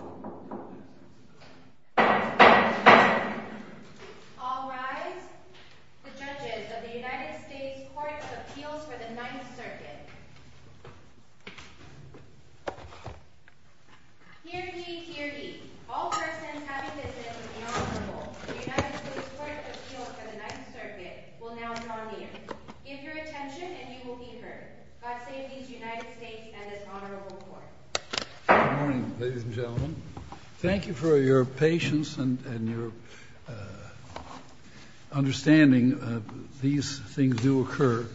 All rise. The judges of the United States Court of Appeals for the Ninth Circuit. Hear ye, hear ye. All persons having business with the Honorable of the United States Court of Appeals for the Ninth Circuit will now be on the air. Give your attention and you will be heard. God save these United States and this Honorable Court. Good morning, ladies and gentlemen. Thank you for your patience and your understanding. These things do occur.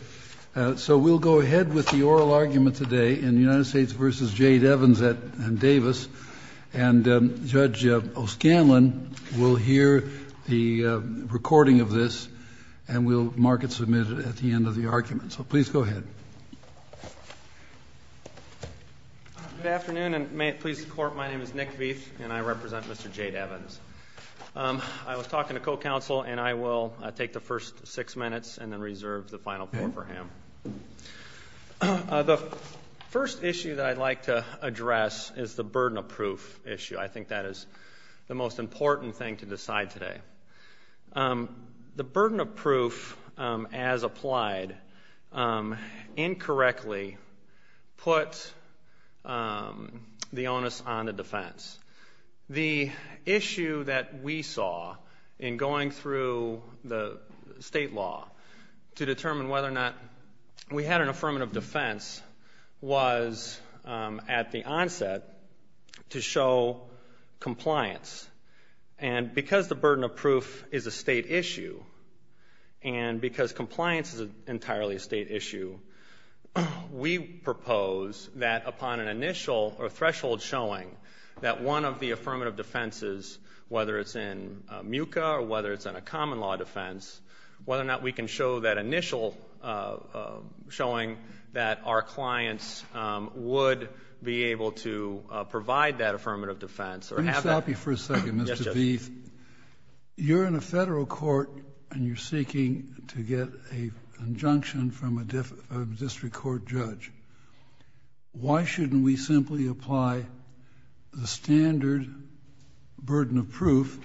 So we'll go ahead with the oral argument today in the United States v. Jayde Evans and Davis. And Judge O'Scanlan will hear the recording of this and will mark it submitted at the end of the argument. So please go ahead. Good afternoon and may it please the Court, my name is Nick Veith and I represent Mr. Jayde Evans. I was talking to co-counsel and I will take the first six minutes and then reserve the final four for him. The first issue that I'd like to address is the burden of proof issue. I think that is the most important thing to decide today. The burden of proof as applied incorrectly put the onus on the defense. The issue that we saw in going through the state law to determine whether or not we had an affirmative defense was at the onset to show compliance. And because the burden of proof is a state issue and because compliance is entirely a state issue, we propose that upon an initial or threshold showing that one of the affirmative defenses, whether it's in MUCA or whether it's in a common law defense, whether or not we can show that initial showing that our clients would be able to provide that affirmative defense. Let me stop you for a second, Mr. Veith. You're in a federal court and you're seeking to get an injunction from a district court judge. Why shouldn't we simply apply the standard burden of proof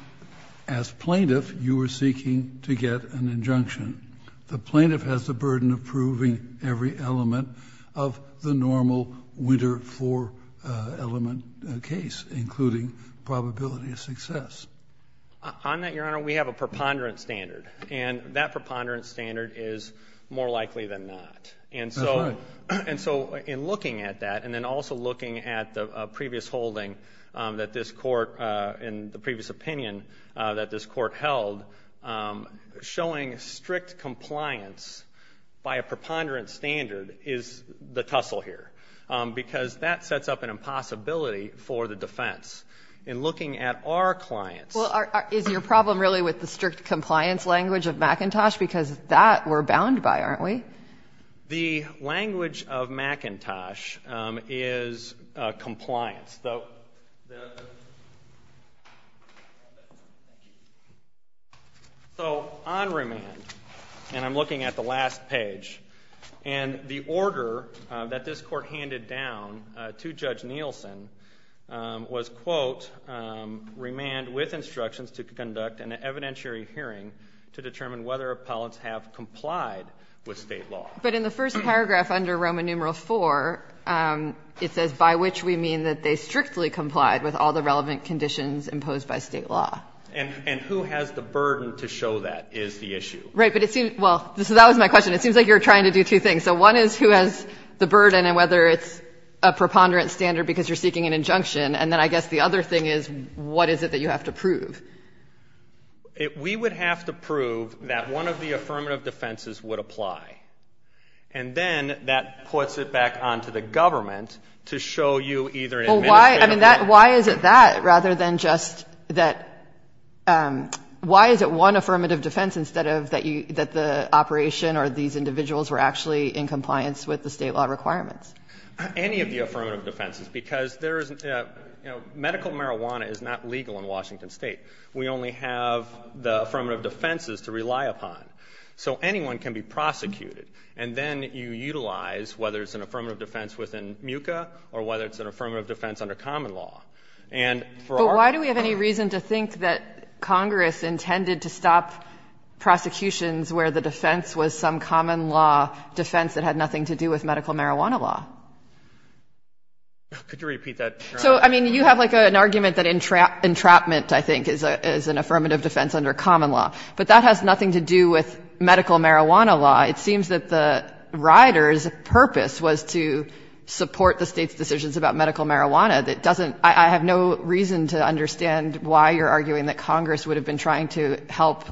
as plaintiff you were seeking to get an injunction? The plaintiff has the burden of proving every element of the normal winter four element case, including probability of success. On that, Your Honor, we have a preponderance standard. And that preponderance standard is more likely than not. That's right. And so in looking at that and then also looking at the previous holding that this court, in the previous opinion that this court held, showing strict compliance by a preponderance standard is the tussle here. Because that sets up an impossibility for the defense. In looking at our clients. Well, is your problem really with the strict compliance language of McIntosh? Because that we're bound by, aren't we? The language of McIntosh is compliance. So on remand, and I'm looking at the last page, and the order that this court handed down to Judge Nielsen was, quote, remand with instructions to conduct an evidentiary hearing to determine whether appellants have complied with state law. But in the first paragraph under Roman numeral IV, it says, by which we mean that they strictly complied with all the relevant conditions imposed by state law. And who has the burden to show that is the issue. Right. But it seems, well, so that was my question. It seems like you're trying to do two things. So one is who has the burden and whether it's a preponderance standard because you're seeking an injunction. And then I guess the other thing is what is it that you have to prove? We would have to prove that one of the affirmative defenses would apply. And then that puts it back onto the government to show you either an administrative Why is it that rather than just that, why is it one affirmative defense instead of that the operation or these individuals were actually in compliance with the state law requirements? Any of the affirmative defenses because there is, you know, we only have the affirmative defenses to rely upon. So anyone can be prosecuted. And then you utilize whether it's an affirmative defense within MUCA or whether it's an affirmative defense under common law. And for our But why do we have any reason to think that Congress intended to stop prosecutions where the defense was some common law defense that had nothing to do with medical marijuana law? Could you repeat that? So, I mean, you have like an argument that entrapment, I think, is an affirmative defense under common law. But that has nothing to do with medical marijuana law. It seems that the rioters' purpose was to support the State's decisions about medical marijuana. That doesn't — I have no reason to understand why you're arguing that Congress would have been trying to help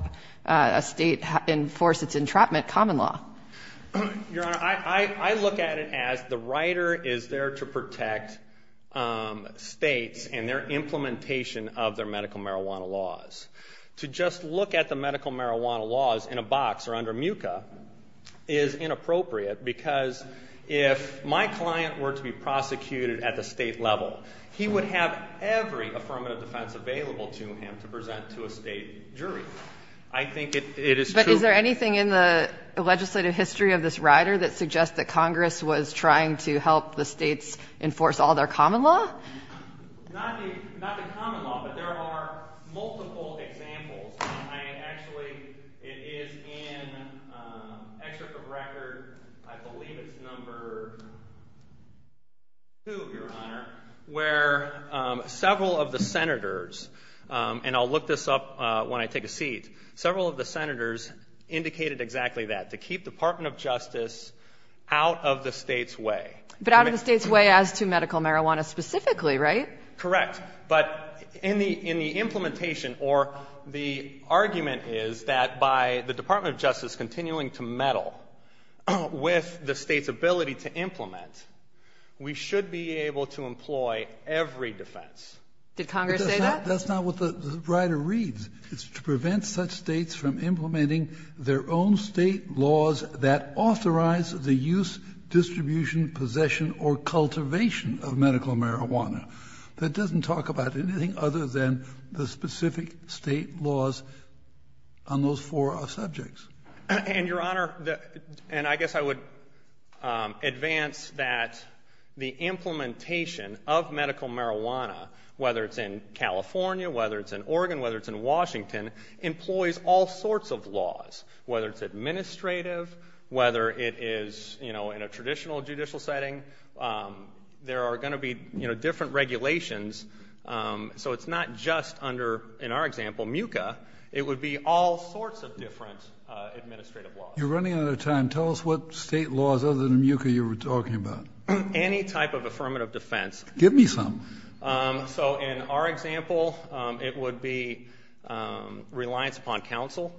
a State enforce its entrapment common law. Your Honor, I look at it as the rioter is there to protect States and their implementation of their medical marijuana laws. To just look at the medical marijuana laws in a box or under MUCA is inappropriate because if my client were to be prosecuted at the State level, he would have every affirmative defense available to him to present to a State jury. I think it is true — Is there a legislative history of this rioter that suggests that Congress was trying to help the States enforce all their common law? Not the common law, but there are multiple examples. Actually, it is in Excerpt of Record, I believe it's number two, Your Honor, where several of the Senators — and I'll look this up when I take a seat — several of the Senators were trying to keep the Department of Justice out of the State's way. But out of the State's way as to medical marijuana specifically, right? Correct. But in the implementation or the argument is that by the Department of Justice continuing to meddle with the State's ability to implement, we should be able to employ every defense. Did Congress say that? That's not what the rioter reads. It's to prevent such States from implementing their own State laws that authorize the use, distribution, possession, or cultivation of medical marijuana. That doesn't talk about anything other than the specific State laws on those four subjects. And, Your Honor, and I guess I would advance that the implementation of medical marijuana in Washington employs all sorts of laws, whether it's administrative, whether it is, you know, in a traditional judicial setting. There are going to be, you know, different regulations. So it's not just under, in our example, MUCA. It would be all sorts of different administrative laws. You're running out of time. Tell us what State laws other than MUCA you were talking about. Any type of affirmative defense. Give me some. So in our example, it would be reliance upon counsel.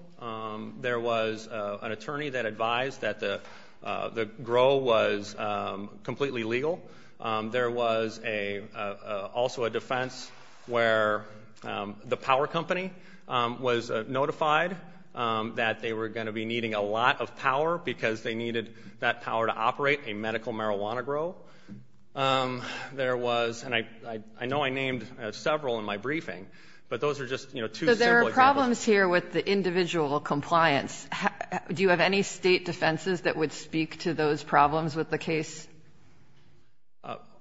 There was an attorney that advised that the grow was completely legal. There was also a defense where the power company was notified that they were going to be needing a lot of power because they needed that power to operate a medical marijuana grow. There was, and I know I named several in my briefing, but those are just, you know, two simple examples. So there are problems here with the individual compliance. Do you have any State defenses that would speak to those problems with the case?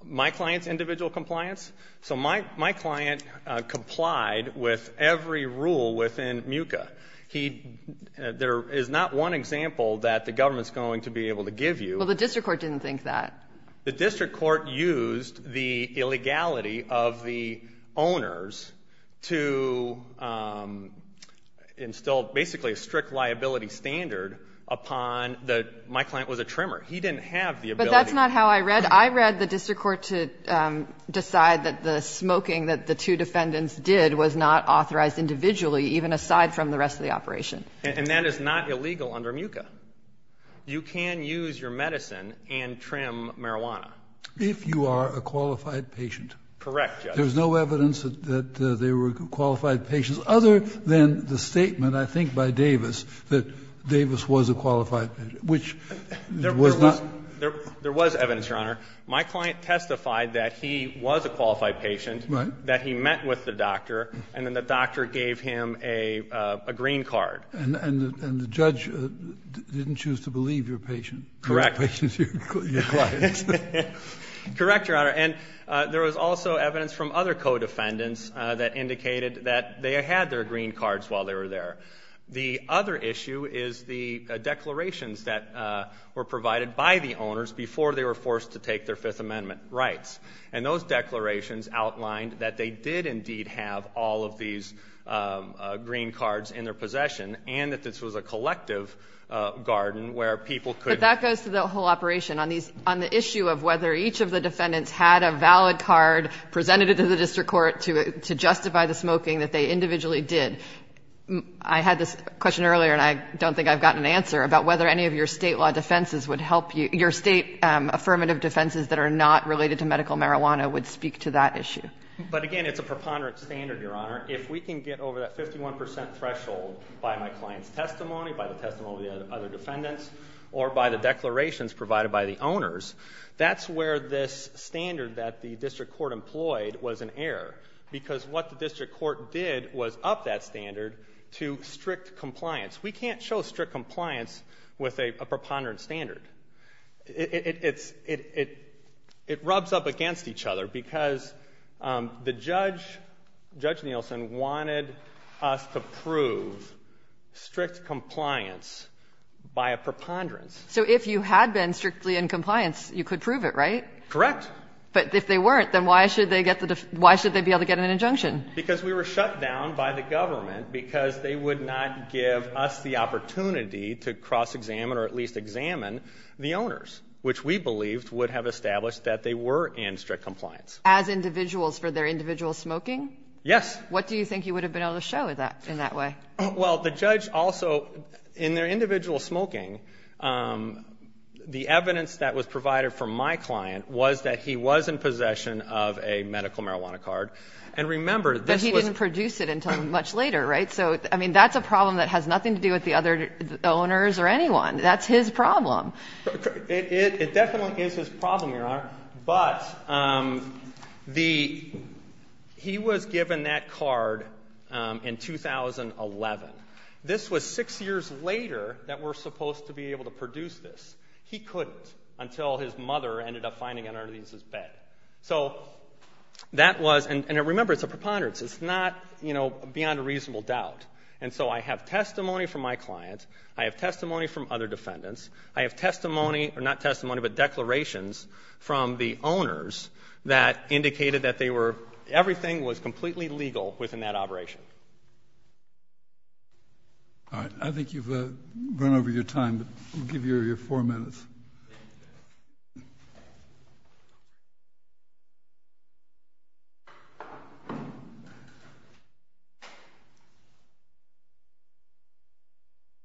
My client's individual compliance? So my client complied with every rule within MUCA. He, there is not one example that the government's going to be able to give you. Well, the district court didn't think that. The district court used the illegality of the owners to install basically a strict liability standard upon the, my client was a trimmer. He didn't have the ability. But that's not how I read. I read the district court to decide that the smoking that the two defendants did was not authorized individually even aside from the rest of the operation. And that is not illegal under MUCA. You can use your medicine and trim marijuana. If you are a qualified patient. Correct, Judge. There's no evidence that they were qualified patients other than the statement, I think, by Davis that Davis was a qualified patient, which was not. There was evidence, Your Honor. My client testified that he was a qualified patient, that he met with the doctor, and then the doctor gave him a green card. And the judge didn't choose to believe your patient. Correct. Your client. Correct, Your Honor. And there was also evidence from other co-defendants that indicated that they had their green cards while they were there. The other issue is the declarations that were provided by the owners before they were forced to take their Fifth Amendment rights. And those declarations outlined that they did indeed have all of these green cards in their possession, and that this was a collective garden where people could. But that goes to the whole operation. On the issue of whether each of the defendants had a valid card presented to the district court to justify the smoking that they individually did, I had this question earlier and I don't think I've gotten an answer about whether any of your State law defenses would help you. Your State affirmative defenses that are not related to medical marijuana would speak to that issue. But again, it's a preponderant standard, Your Honor. If we can get over that 51 percent threshold by my client's testimony, by the testimony of the other defendants, or by the declarations provided by the owners, that's where this standard that the district court employed was an error. Because what the district court did was up that standard to strict compliance. We can't show strict compliance with a preponderant standard. It rubs up against each other because the judge, Judge Nielsen, wanted us to prove strict compliance by a preponderance. So if you had been strictly in compliance, you could prove it, right? Correct. But if they weren't, then why should they be able to get an injunction? Because we were shut down by the government because they would not give us the opportunity to cross-examine or at least examine the owners, which we believed would have established that they were in strict compliance. As individuals for their individual smoking? Yes. What do you think you would have been able to show in that way? Well, the judge also, in their individual smoking, the evidence that was provided from my client was that he was in possession of a medical marijuana card. But he didn't produce it until much later, right? So, I mean, that's a problem that has nothing to do with the other owners or anyone. That's his problem. It definitely is his problem, Your Honor. But he was given that card in 2011. This was six years later that we're supposed to be able to produce this. He couldn't until his mother ended up finding it under his bed. So that was, and remember, it's a preponderance. It's not, you know, beyond a reasonable doubt. And so I have testimony from my client. I have testimony from other defendants. I have testimony, or not testimony, but declarations from the owners that indicated that they were, everything was completely legal within that operation. All right. I think you've run over your time. We'll give you your four minutes.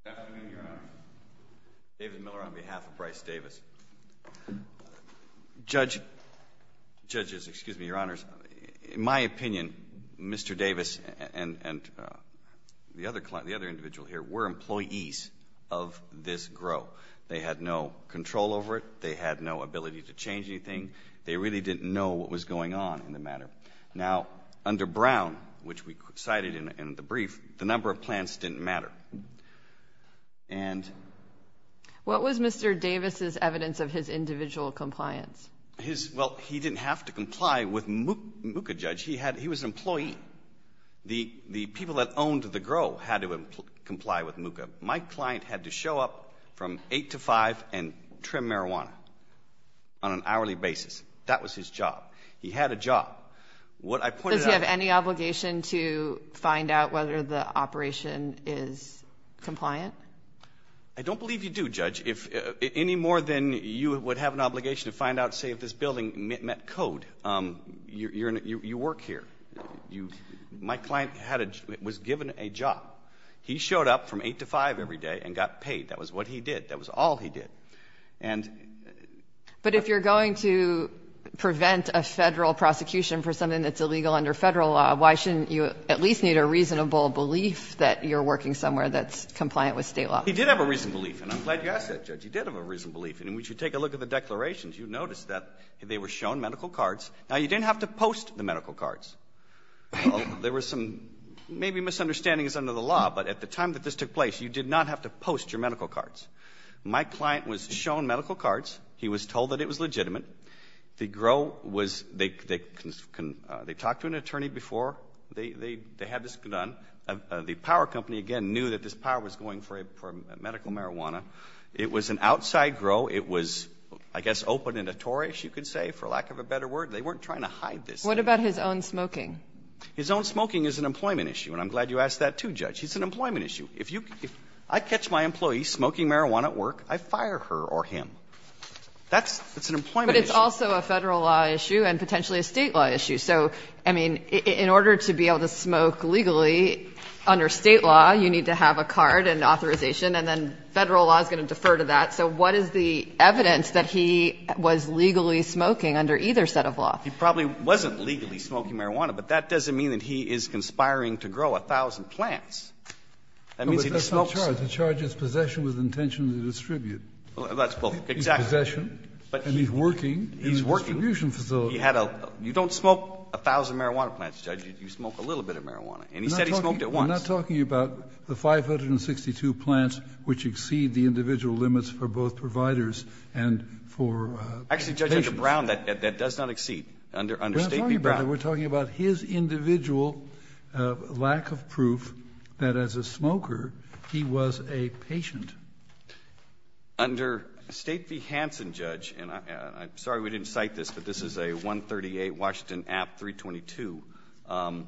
Good afternoon, Your Honor. David Miller on behalf of Bryce Davis. Judge, judges, excuse me, Your Honors. In my opinion, Mr. Davis and the other individual here were employees of this grow. They had no control over it. They had no ability to change anything. They really didn't know what was going on in the matter. Now, under Brown, which we cited in the brief, the number of plants didn't matter. And. What was Mr. Davis's evidence of his individual compliance? Well, he didn't have to comply with MUCA, Judge. He was an employee. The people that owned the grow had to comply with MUCA. My client had to show up from 8 to 5 and trim marijuana on an hourly basis. That was his job. He had a job. Does he have any obligation to find out whether the operation is compliant? I don't believe you do, Judge. Any more than you would have an obligation to find out, say, if this building met code, you work here. My client was given a job. He showed up from 8 to 5 every day and got paid. That was what he did. That was all he did. But if you're going to prevent a Federal prosecution for something that's illegal under Federal law, why shouldn't you at least need a reasonable belief that you're working somewhere that's compliant with State law? He did have a reasonable belief, and I'm glad you asked that, Judge. He did have a reasonable belief. And we should take a look at the declarations. You notice that they were shown medical cards. Now, you didn't have to post the medical cards. There were some maybe misunderstandings under the law, but at the time that this took place, you did not have to post your medical cards. My client was shown medical cards. He was told that it was legitimate. They talked to an attorney before they had this done. The power company, again, knew that this power was going for medical marijuana. It was an outside grow. It was, I guess, open and notorious, you could say, for lack of a better word. They weren't trying to hide this. What about his own smoking? His own smoking is an employment issue, and I'm glad you asked that, too, Judge. It's an employment issue. If I catch my employee smoking marijuana at work, I fire her or him. That's an employment issue. But it's also a Federal law issue and potentially a State law issue. So, I mean, in order to be able to smoke legally under State law, you need to have a card and authorization, and then Federal law is going to defer to that. So what is the evidence that he was legally smoking under either set of law? He probably wasn't legally smoking marijuana, but that doesn't mean that he is conspiring to grow 1,000 plants. That means he smokes. Kennedy. But that's not charged. It charges possession with intention to distribute. Well, that's both. Exactly. Possession, and he's working in a distribution facility. He's working. You don't smoke 1,000 marijuana plants, Judge. You smoke a little bit of marijuana. And he said he smoked it once. I'm not talking about the 562 plants which exceed the individual limits for both providers and for patients. Actually, Judge, under Brown, that does not exceed. Under State v. Brown. We're talking about his individual lack of proof that as a smoker, he was a patient. Under State v. Hansen, Judge, and I'm sorry we didn't cite this, but this is a 138 Washington App 322.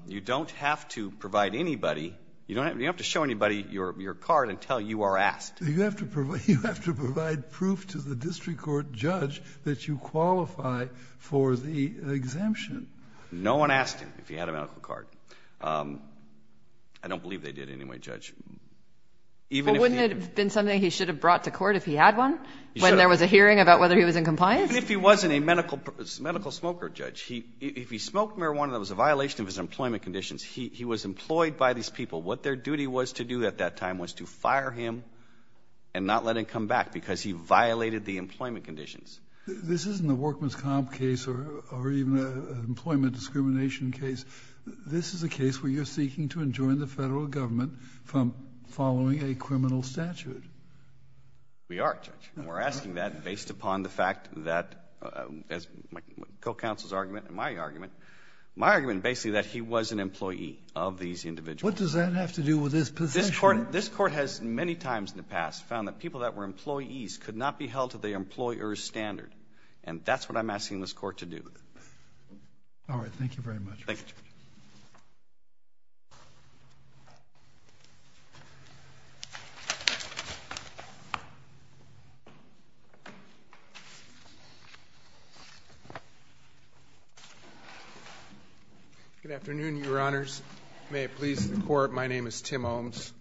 You don't have to provide anybody. You don't have to show anybody your card until you are asked. You have to provide proof to the district court judge that you qualify for the exemption. No one asked him if he had a medical card. I don't believe they did anyway, Judge. But wouldn't it have been something he should have brought to court if he had one, when there was a hearing about whether he was in compliance? Even if he wasn't a medical smoker, Judge, if he smoked marijuana that was a violation of his employment conditions, he was employed by these people. What their duty was to do at that time was to fire him and not let him come back because he violated the employment conditions. This isn't a workman's comp case or even an employment discrimination case. This is a case where you're seeking to enjoin the Federal Government from following a criminal statute. We are, Judge. We're asking that based upon the fact that, as my co-counsel's argument and my argument, my argument basically that he was an employee of these individuals. What does that have to do with his possession? This Court has many times in the past found that people that were employees could not be held to the employer's standard, and that's what I'm asking this Court to do. All right. Thank you very much. Thank you, Judge. Good afternoon, Your Honors. May it please the Court, my name is Tim Holmes.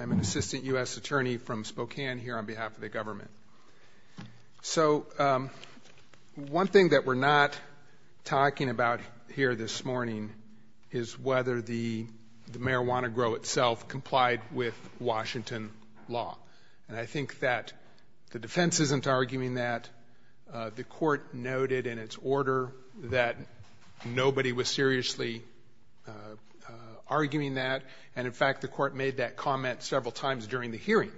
I'm an assistant U.S. attorney from Spokane here on behalf of the government. So one thing that we're not talking about here this morning is whether the marijuana grow itself complied with Washington law, and I think that the defense isn't arguing that. The Court noted in its order that nobody was seriously arguing that, and in fact the Court made that comment several times during the hearing,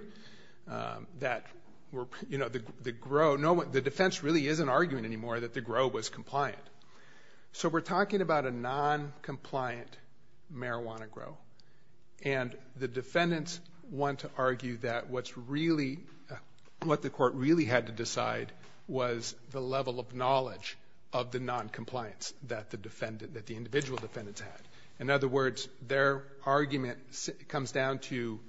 that the defense really isn't arguing anymore that the grow was compliant. So we're talking about a noncompliant marijuana grow, and the defendants want to argue that what the Court really had to decide was the level of knowledge of the noncompliance that the individual defendants had. In other words, their argument comes down to,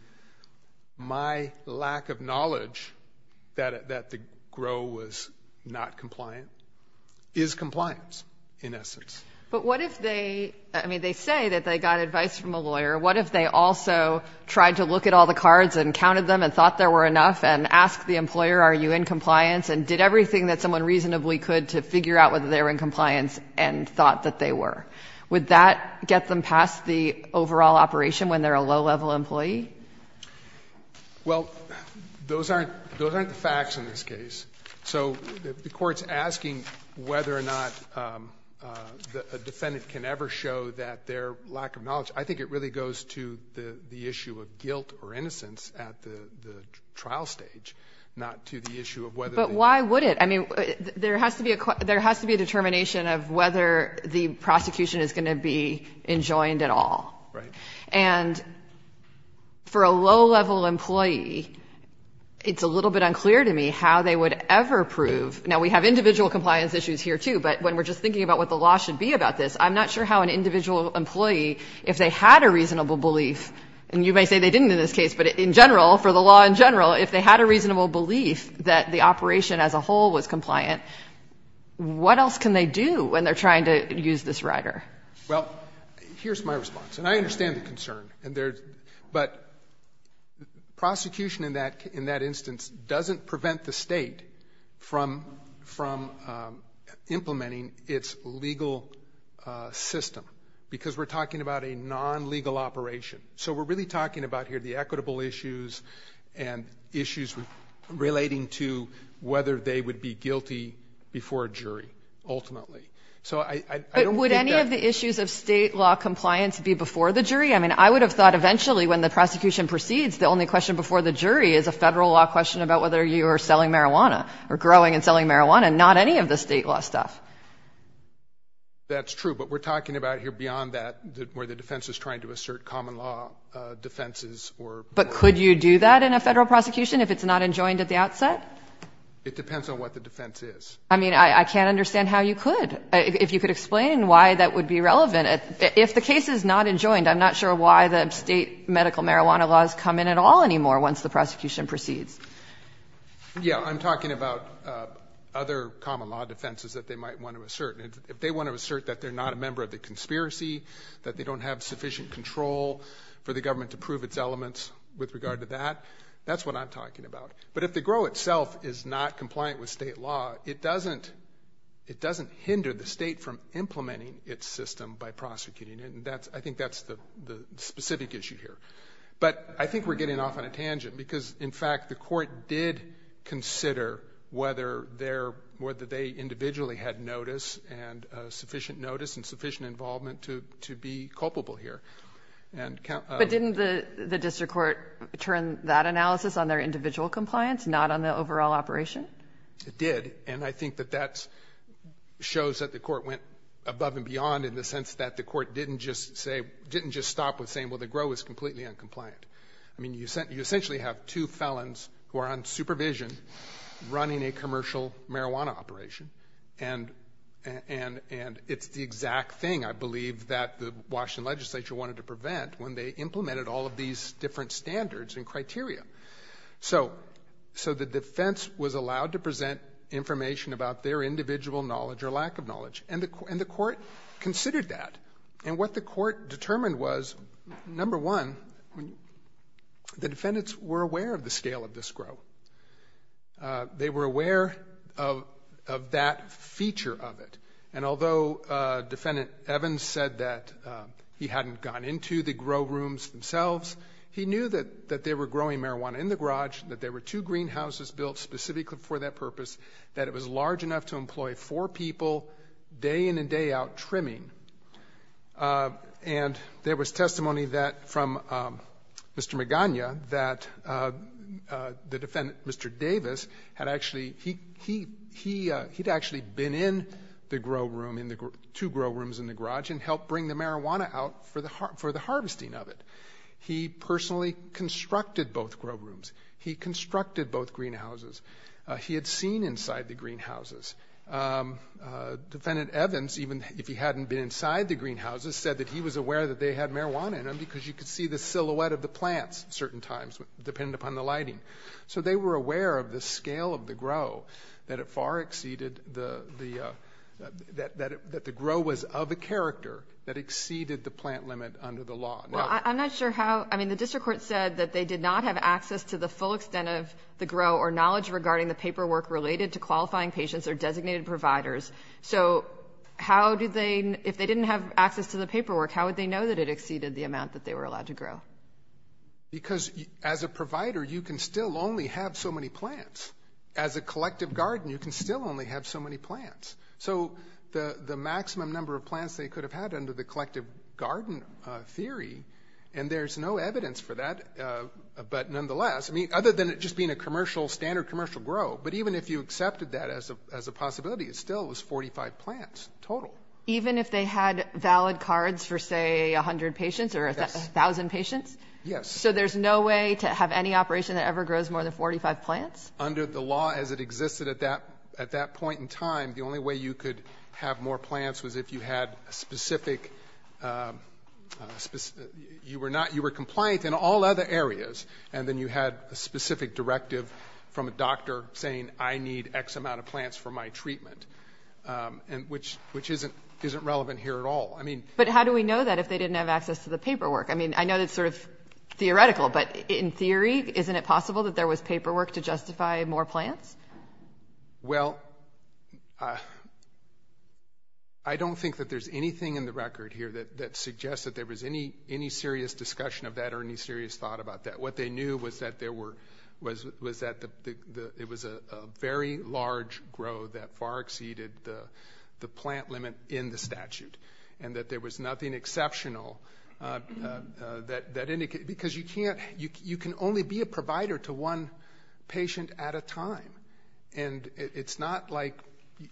my lack of knowledge that the grow was not compliant is compliance in essence. But what if they, I mean, they say that they got advice from a lawyer. What if they also tried to look at all the cards and counted them and thought there were enough and asked the employer, are you in compliance, and did everything that someone reasonably could to figure out whether they were in compliance and thought that they were? Would that get them past the overall operation when they're a low-level employee? Well, those aren't the facts in this case. So if the Court's asking whether or not a defendant can ever show that their lack of knowledge, I think it really goes to the issue of guilt or innocence at the trial stage, not to the issue of whether they were. But why would it? I mean, there has to be a determination of whether the prosecution is going to be enjoined at all. And for a low-level employee, it's a little bit unclear to me how they would ever prove. Now, we have individual compliance issues here, too, but when we're just thinking about what the law should be about this, I'm not sure how an individual employee, if they had a reasonable belief, and you may say they didn't in this case, but in general, for the law in general, if they had a reasonable belief that the operation as a whole was compliant, what else can they do when they're trying to use this rider? Well, here's my response. And I understand the concern. But prosecution in that instance doesn't prevent the State from implementing its legal system because we're talking about a non-legal operation. So we're really talking about here the equitable issues and issues relating to whether they would be guilty before a jury, ultimately. So I don't think that ---- But would any of the issues of State law compliance be before the jury? I mean, I would have thought eventually when the prosecution proceeds, the only question before the jury is a Federal law question about whether you are selling marijuana or growing and selling marijuana, not any of the State law stuff. That's true. But we're talking about here beyond that where the defense is trying to assert common law defenses or ---- But could you do that in a Federal prosecution if it's not enjoined at the outset? It depends on what the defense is. I mean, I can't understand how you could. If you could explain why that would be relevant. If the case is not enjoined, I'm not sure why the State medical marijuana laws come in at all anymore once the prosecution proceeds. Yeah. I'm talking about other common law defenses that they might want to assert. If they want to assert that they're not a member of the conspiracy, that they don't have sufficient control for the government to prove its elements with regard to that, that's what I'm talking about. But if the grow itself is not compliant with State law, it doesn't hinder the State from implementing its system by prosecuting it. And I think that's the specific issue here. But I think we're getting off on a tangent because, in fact, the Court did consider whether they individually had notice and sufficient notice and sufficient involvement to be culpable here. But didn't the district court turn that analysis on their individual compliance, not on the overall operation? It did. And I think that that shows that the Court went above and beyond in the sense that the Court didn't just stop with saying, well, the grow is completely uncompliant. I mean, you essentially have two felons who are on supervision running a commercial marijuana operation, and it's the exact thing I believe that the Washington legislature wanted to prevent when they implemented all of these different standards and criteria. So the defense was allowed to present information about their individual knowledge or lack of knowledge, and the Court considered that. And what the Court determined was, number one, the defendants were aware of the scale of this grow. They were aware of that feature of it. And although Defendant Evans said that he hadn't gone into the grow rooms themselves, he knew that they were growing marijuana in the garage, that there were two greenhouses built specifically for that purpose, that it was large enough to employ four people day in and day out trimming. And there was testimony from Mr. Magana that the defendant, Mr. Davis, had actually been in the grow room, two grow rooms in the garage, and helped bring the marijuana out for the harvesting of it. He personally constructed both grow rooms. He constructed both greenhouses. He had seen inside the greenhouses. Defendant Evans, even if he hadn't been inside the greenhouses, said that he was aware that they had marijuana in them because you could see the silhouette of the plants at certain times, depending upon the lighting. So they were aware of the scale of the grow, that it far exceeded the ‑‑ that the grow was of a character that exceeded the plant limit under the law. Well, I'm not sure how ‑‑ I mean, the district court said that they did not have access to the full extent of the grow or knowledge regarding the paperwork related to qualifying patients or designated providers. So how do they ‑‑ if they didn't have access to the paperwork, how would they know that it exceeded the amount that they were allowed to grow? Because as a provider, you can still only have so many plants. As a collective garden, you can still only have so many plants. So the maximum number of plants they could have had under the collective garden other than it just being a commercial, standard commercial grow, but even if you accepted that as a possibility, it still was 45 plants total. Even if they had valid cards for, say, 100 patients or 1,000 patients? Yes. So there's no way to have any operation that ever grows more than 45 plants? Under the law as it existed at that point in time, the only way you could have more plants was if you had a specific ‑‑ you were not ‑‑ you were compliant in all other areas, and then you had a specific directive from a doctor saying, I need X amount of plants for my treatment, which isn't relevant here at all. But how do we know that if they didn't have access to the paperwork? I mean, I know that's sort of theoretical, but in theory isn't it possible that there was paperwork to justify more plants? Well, I don't think that there's anything in the record here that suggests that there was any serious discussion of that or any serious thought about that. What they knew was that there were ‑‑ was that it was a very large grow that far exceeded the plant limit in the statute and that there was nothing exceptional that indicated ‑‑ because you can't ‑‑ you can only be a provider to one patient at a time, and it's not like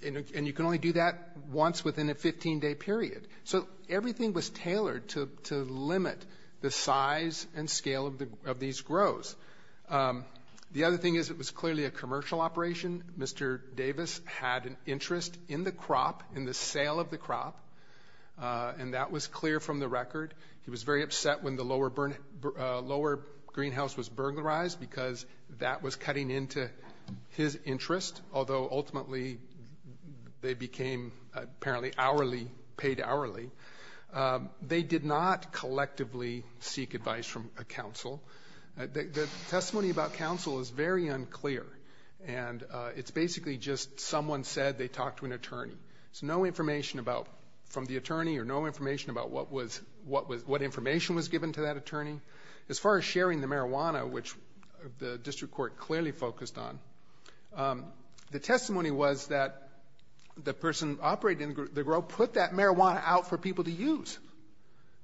‑‑ and you can only do that once within a 15‑day period. So everything was tailored to limit the size and scale of these grows. The other thing is it was clearly a commercial operation. Mr. Davis had an interest in the crop, in the sale of the crop, and that was clear from the record. He was very upset when the lower greenhouse was burglarized because that was cutting into his interest, although ultimately they became apparently hourly, paid hourly. They did not collectively seek advice from a counsel. The testimony about counsel is very unclear, and it's basically just someone said they talked to an attorney. So no information about ‑‑ from the attorney or no information about what information was given to that attorney. As far as sharing the marijuana, which the district court clearly focused on, the testimony was that the person operating the grow put that marijuana out for people to use.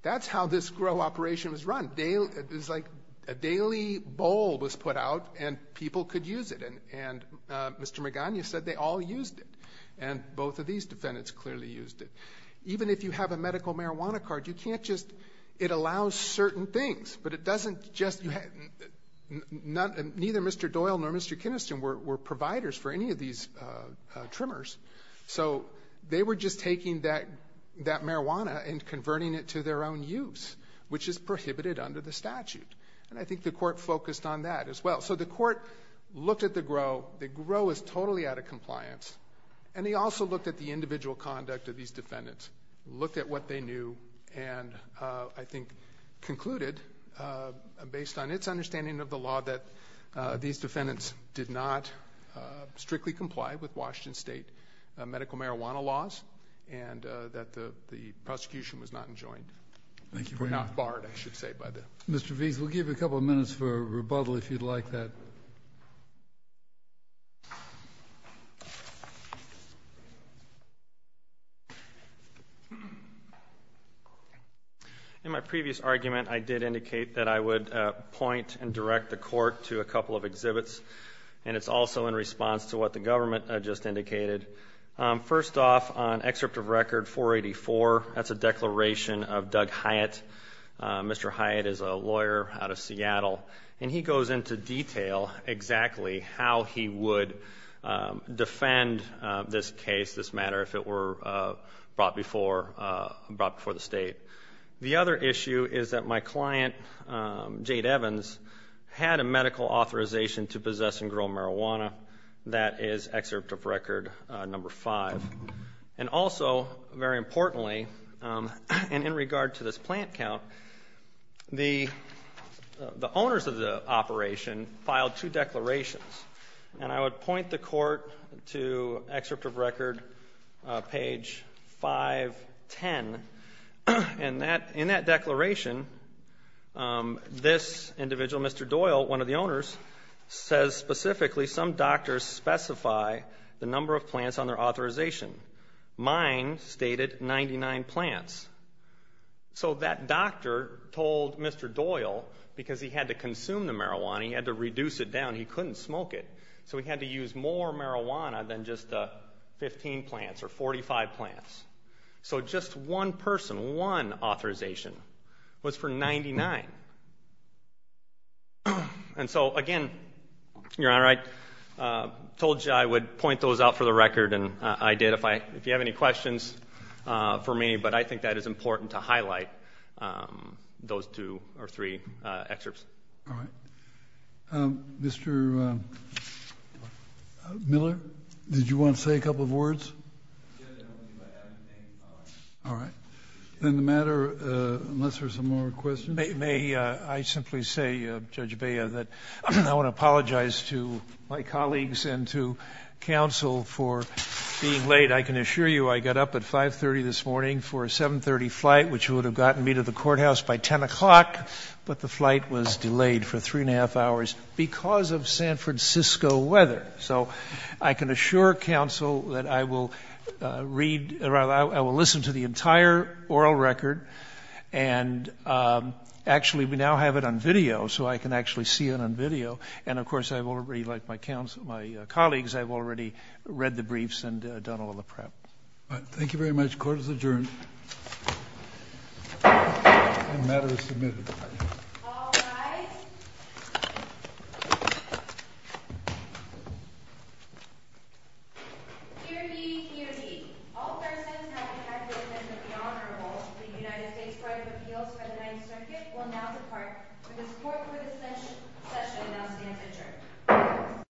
That's how this grow operation was run. It was like a daily bowl was put out, and people could use it, and Mr. Magana said they all used it, and both of these defendants clearly used it. Even if you have a medical marijuana card, you can't just ‑‑ it allows certain things, but it doesn't just ‑‑ neither Mr. Doyle nor Mr. Kiniston were providers for any of these trimmers, so they were just taking that marijuana and converting it to their own use, which is prohibited under the statute, and I think the court focused on that as well. So the court looked at the grow. The grow is totally out of compliance, and they also looked at the individual conduct of these defendants, looked at what they knew, and I think concluded, based on its understanding of the law, that these defendants did not strictly comply with Washington State medical marijuana laws and that the prosecution was not enjoined, or not barred, I should say. Mr. Vease, we'll give you a couple of minutes for rebuttal if you'd like that. In my previous argument, I did indicate that I would point and direct the court to a couple of exhibits, and it's also in response to what the government just indicated. First off, on excerpt of record 484, that's a declaration of Doug Hyatt. Mr. Hyatt is a lawyer out of Seattle, and he goes into detail exactly how he would defend this case, this matter, if it were brought before the state. The other issue is that my client, Jade Evans, had a medical authorization to possess and grow marijuana. That is excerpt of record number 5. And also, very importantly, and in regard to this plant count, the owners of the operation filed two declarations, and I would point the court to excerpt of record page 510. In that declaration, this individual, Mr. Doyle, one of the owners, says specifically, some doctors specify the number of plants on their authorization. Mine stated 99 plants. So that doctor told Mr. Doyle, because he had to consume the marijuana, he had to reduce it down, he couldn't smoke it, so he had to use more marijuana than just 15 plants or 45 plants. So just one person, one authorization was for 99. And so, again, Your Honor, I told you I would point those out for the record, and I did, if you have any questions for me, but I think that is important to highlight those two or three excerpts. All right. Mr. Miller, did you want to say a couple of words? All right. Then the matter, unless there are some more questions. May I simply say, Judge Bea, that I want to apologize to my colleagues and to counsel for being late. I can assure you I got up at 5.30 this morning for a 7.30 flight, which would have gotten me to the courthouse by 10 o'clock, but the flight was delayed for three and a half hours because of San Francisco weather. So I can assure counsel that I will listen to the entire oral record, and actually we now have it on video, so I can actually see it on video. And, of course, I've already, like my colleagues, I've already read the briefs and done all the prep. All right. Thank you very much. Court is adjourned. The matter is submitted. All rise. Hear ye, hear ye. All persons having acted in the interest of the Honorable, the United States Court of Appeals for the Ninth Circuit, will now depart. For the support for this session, I now stand adjourned.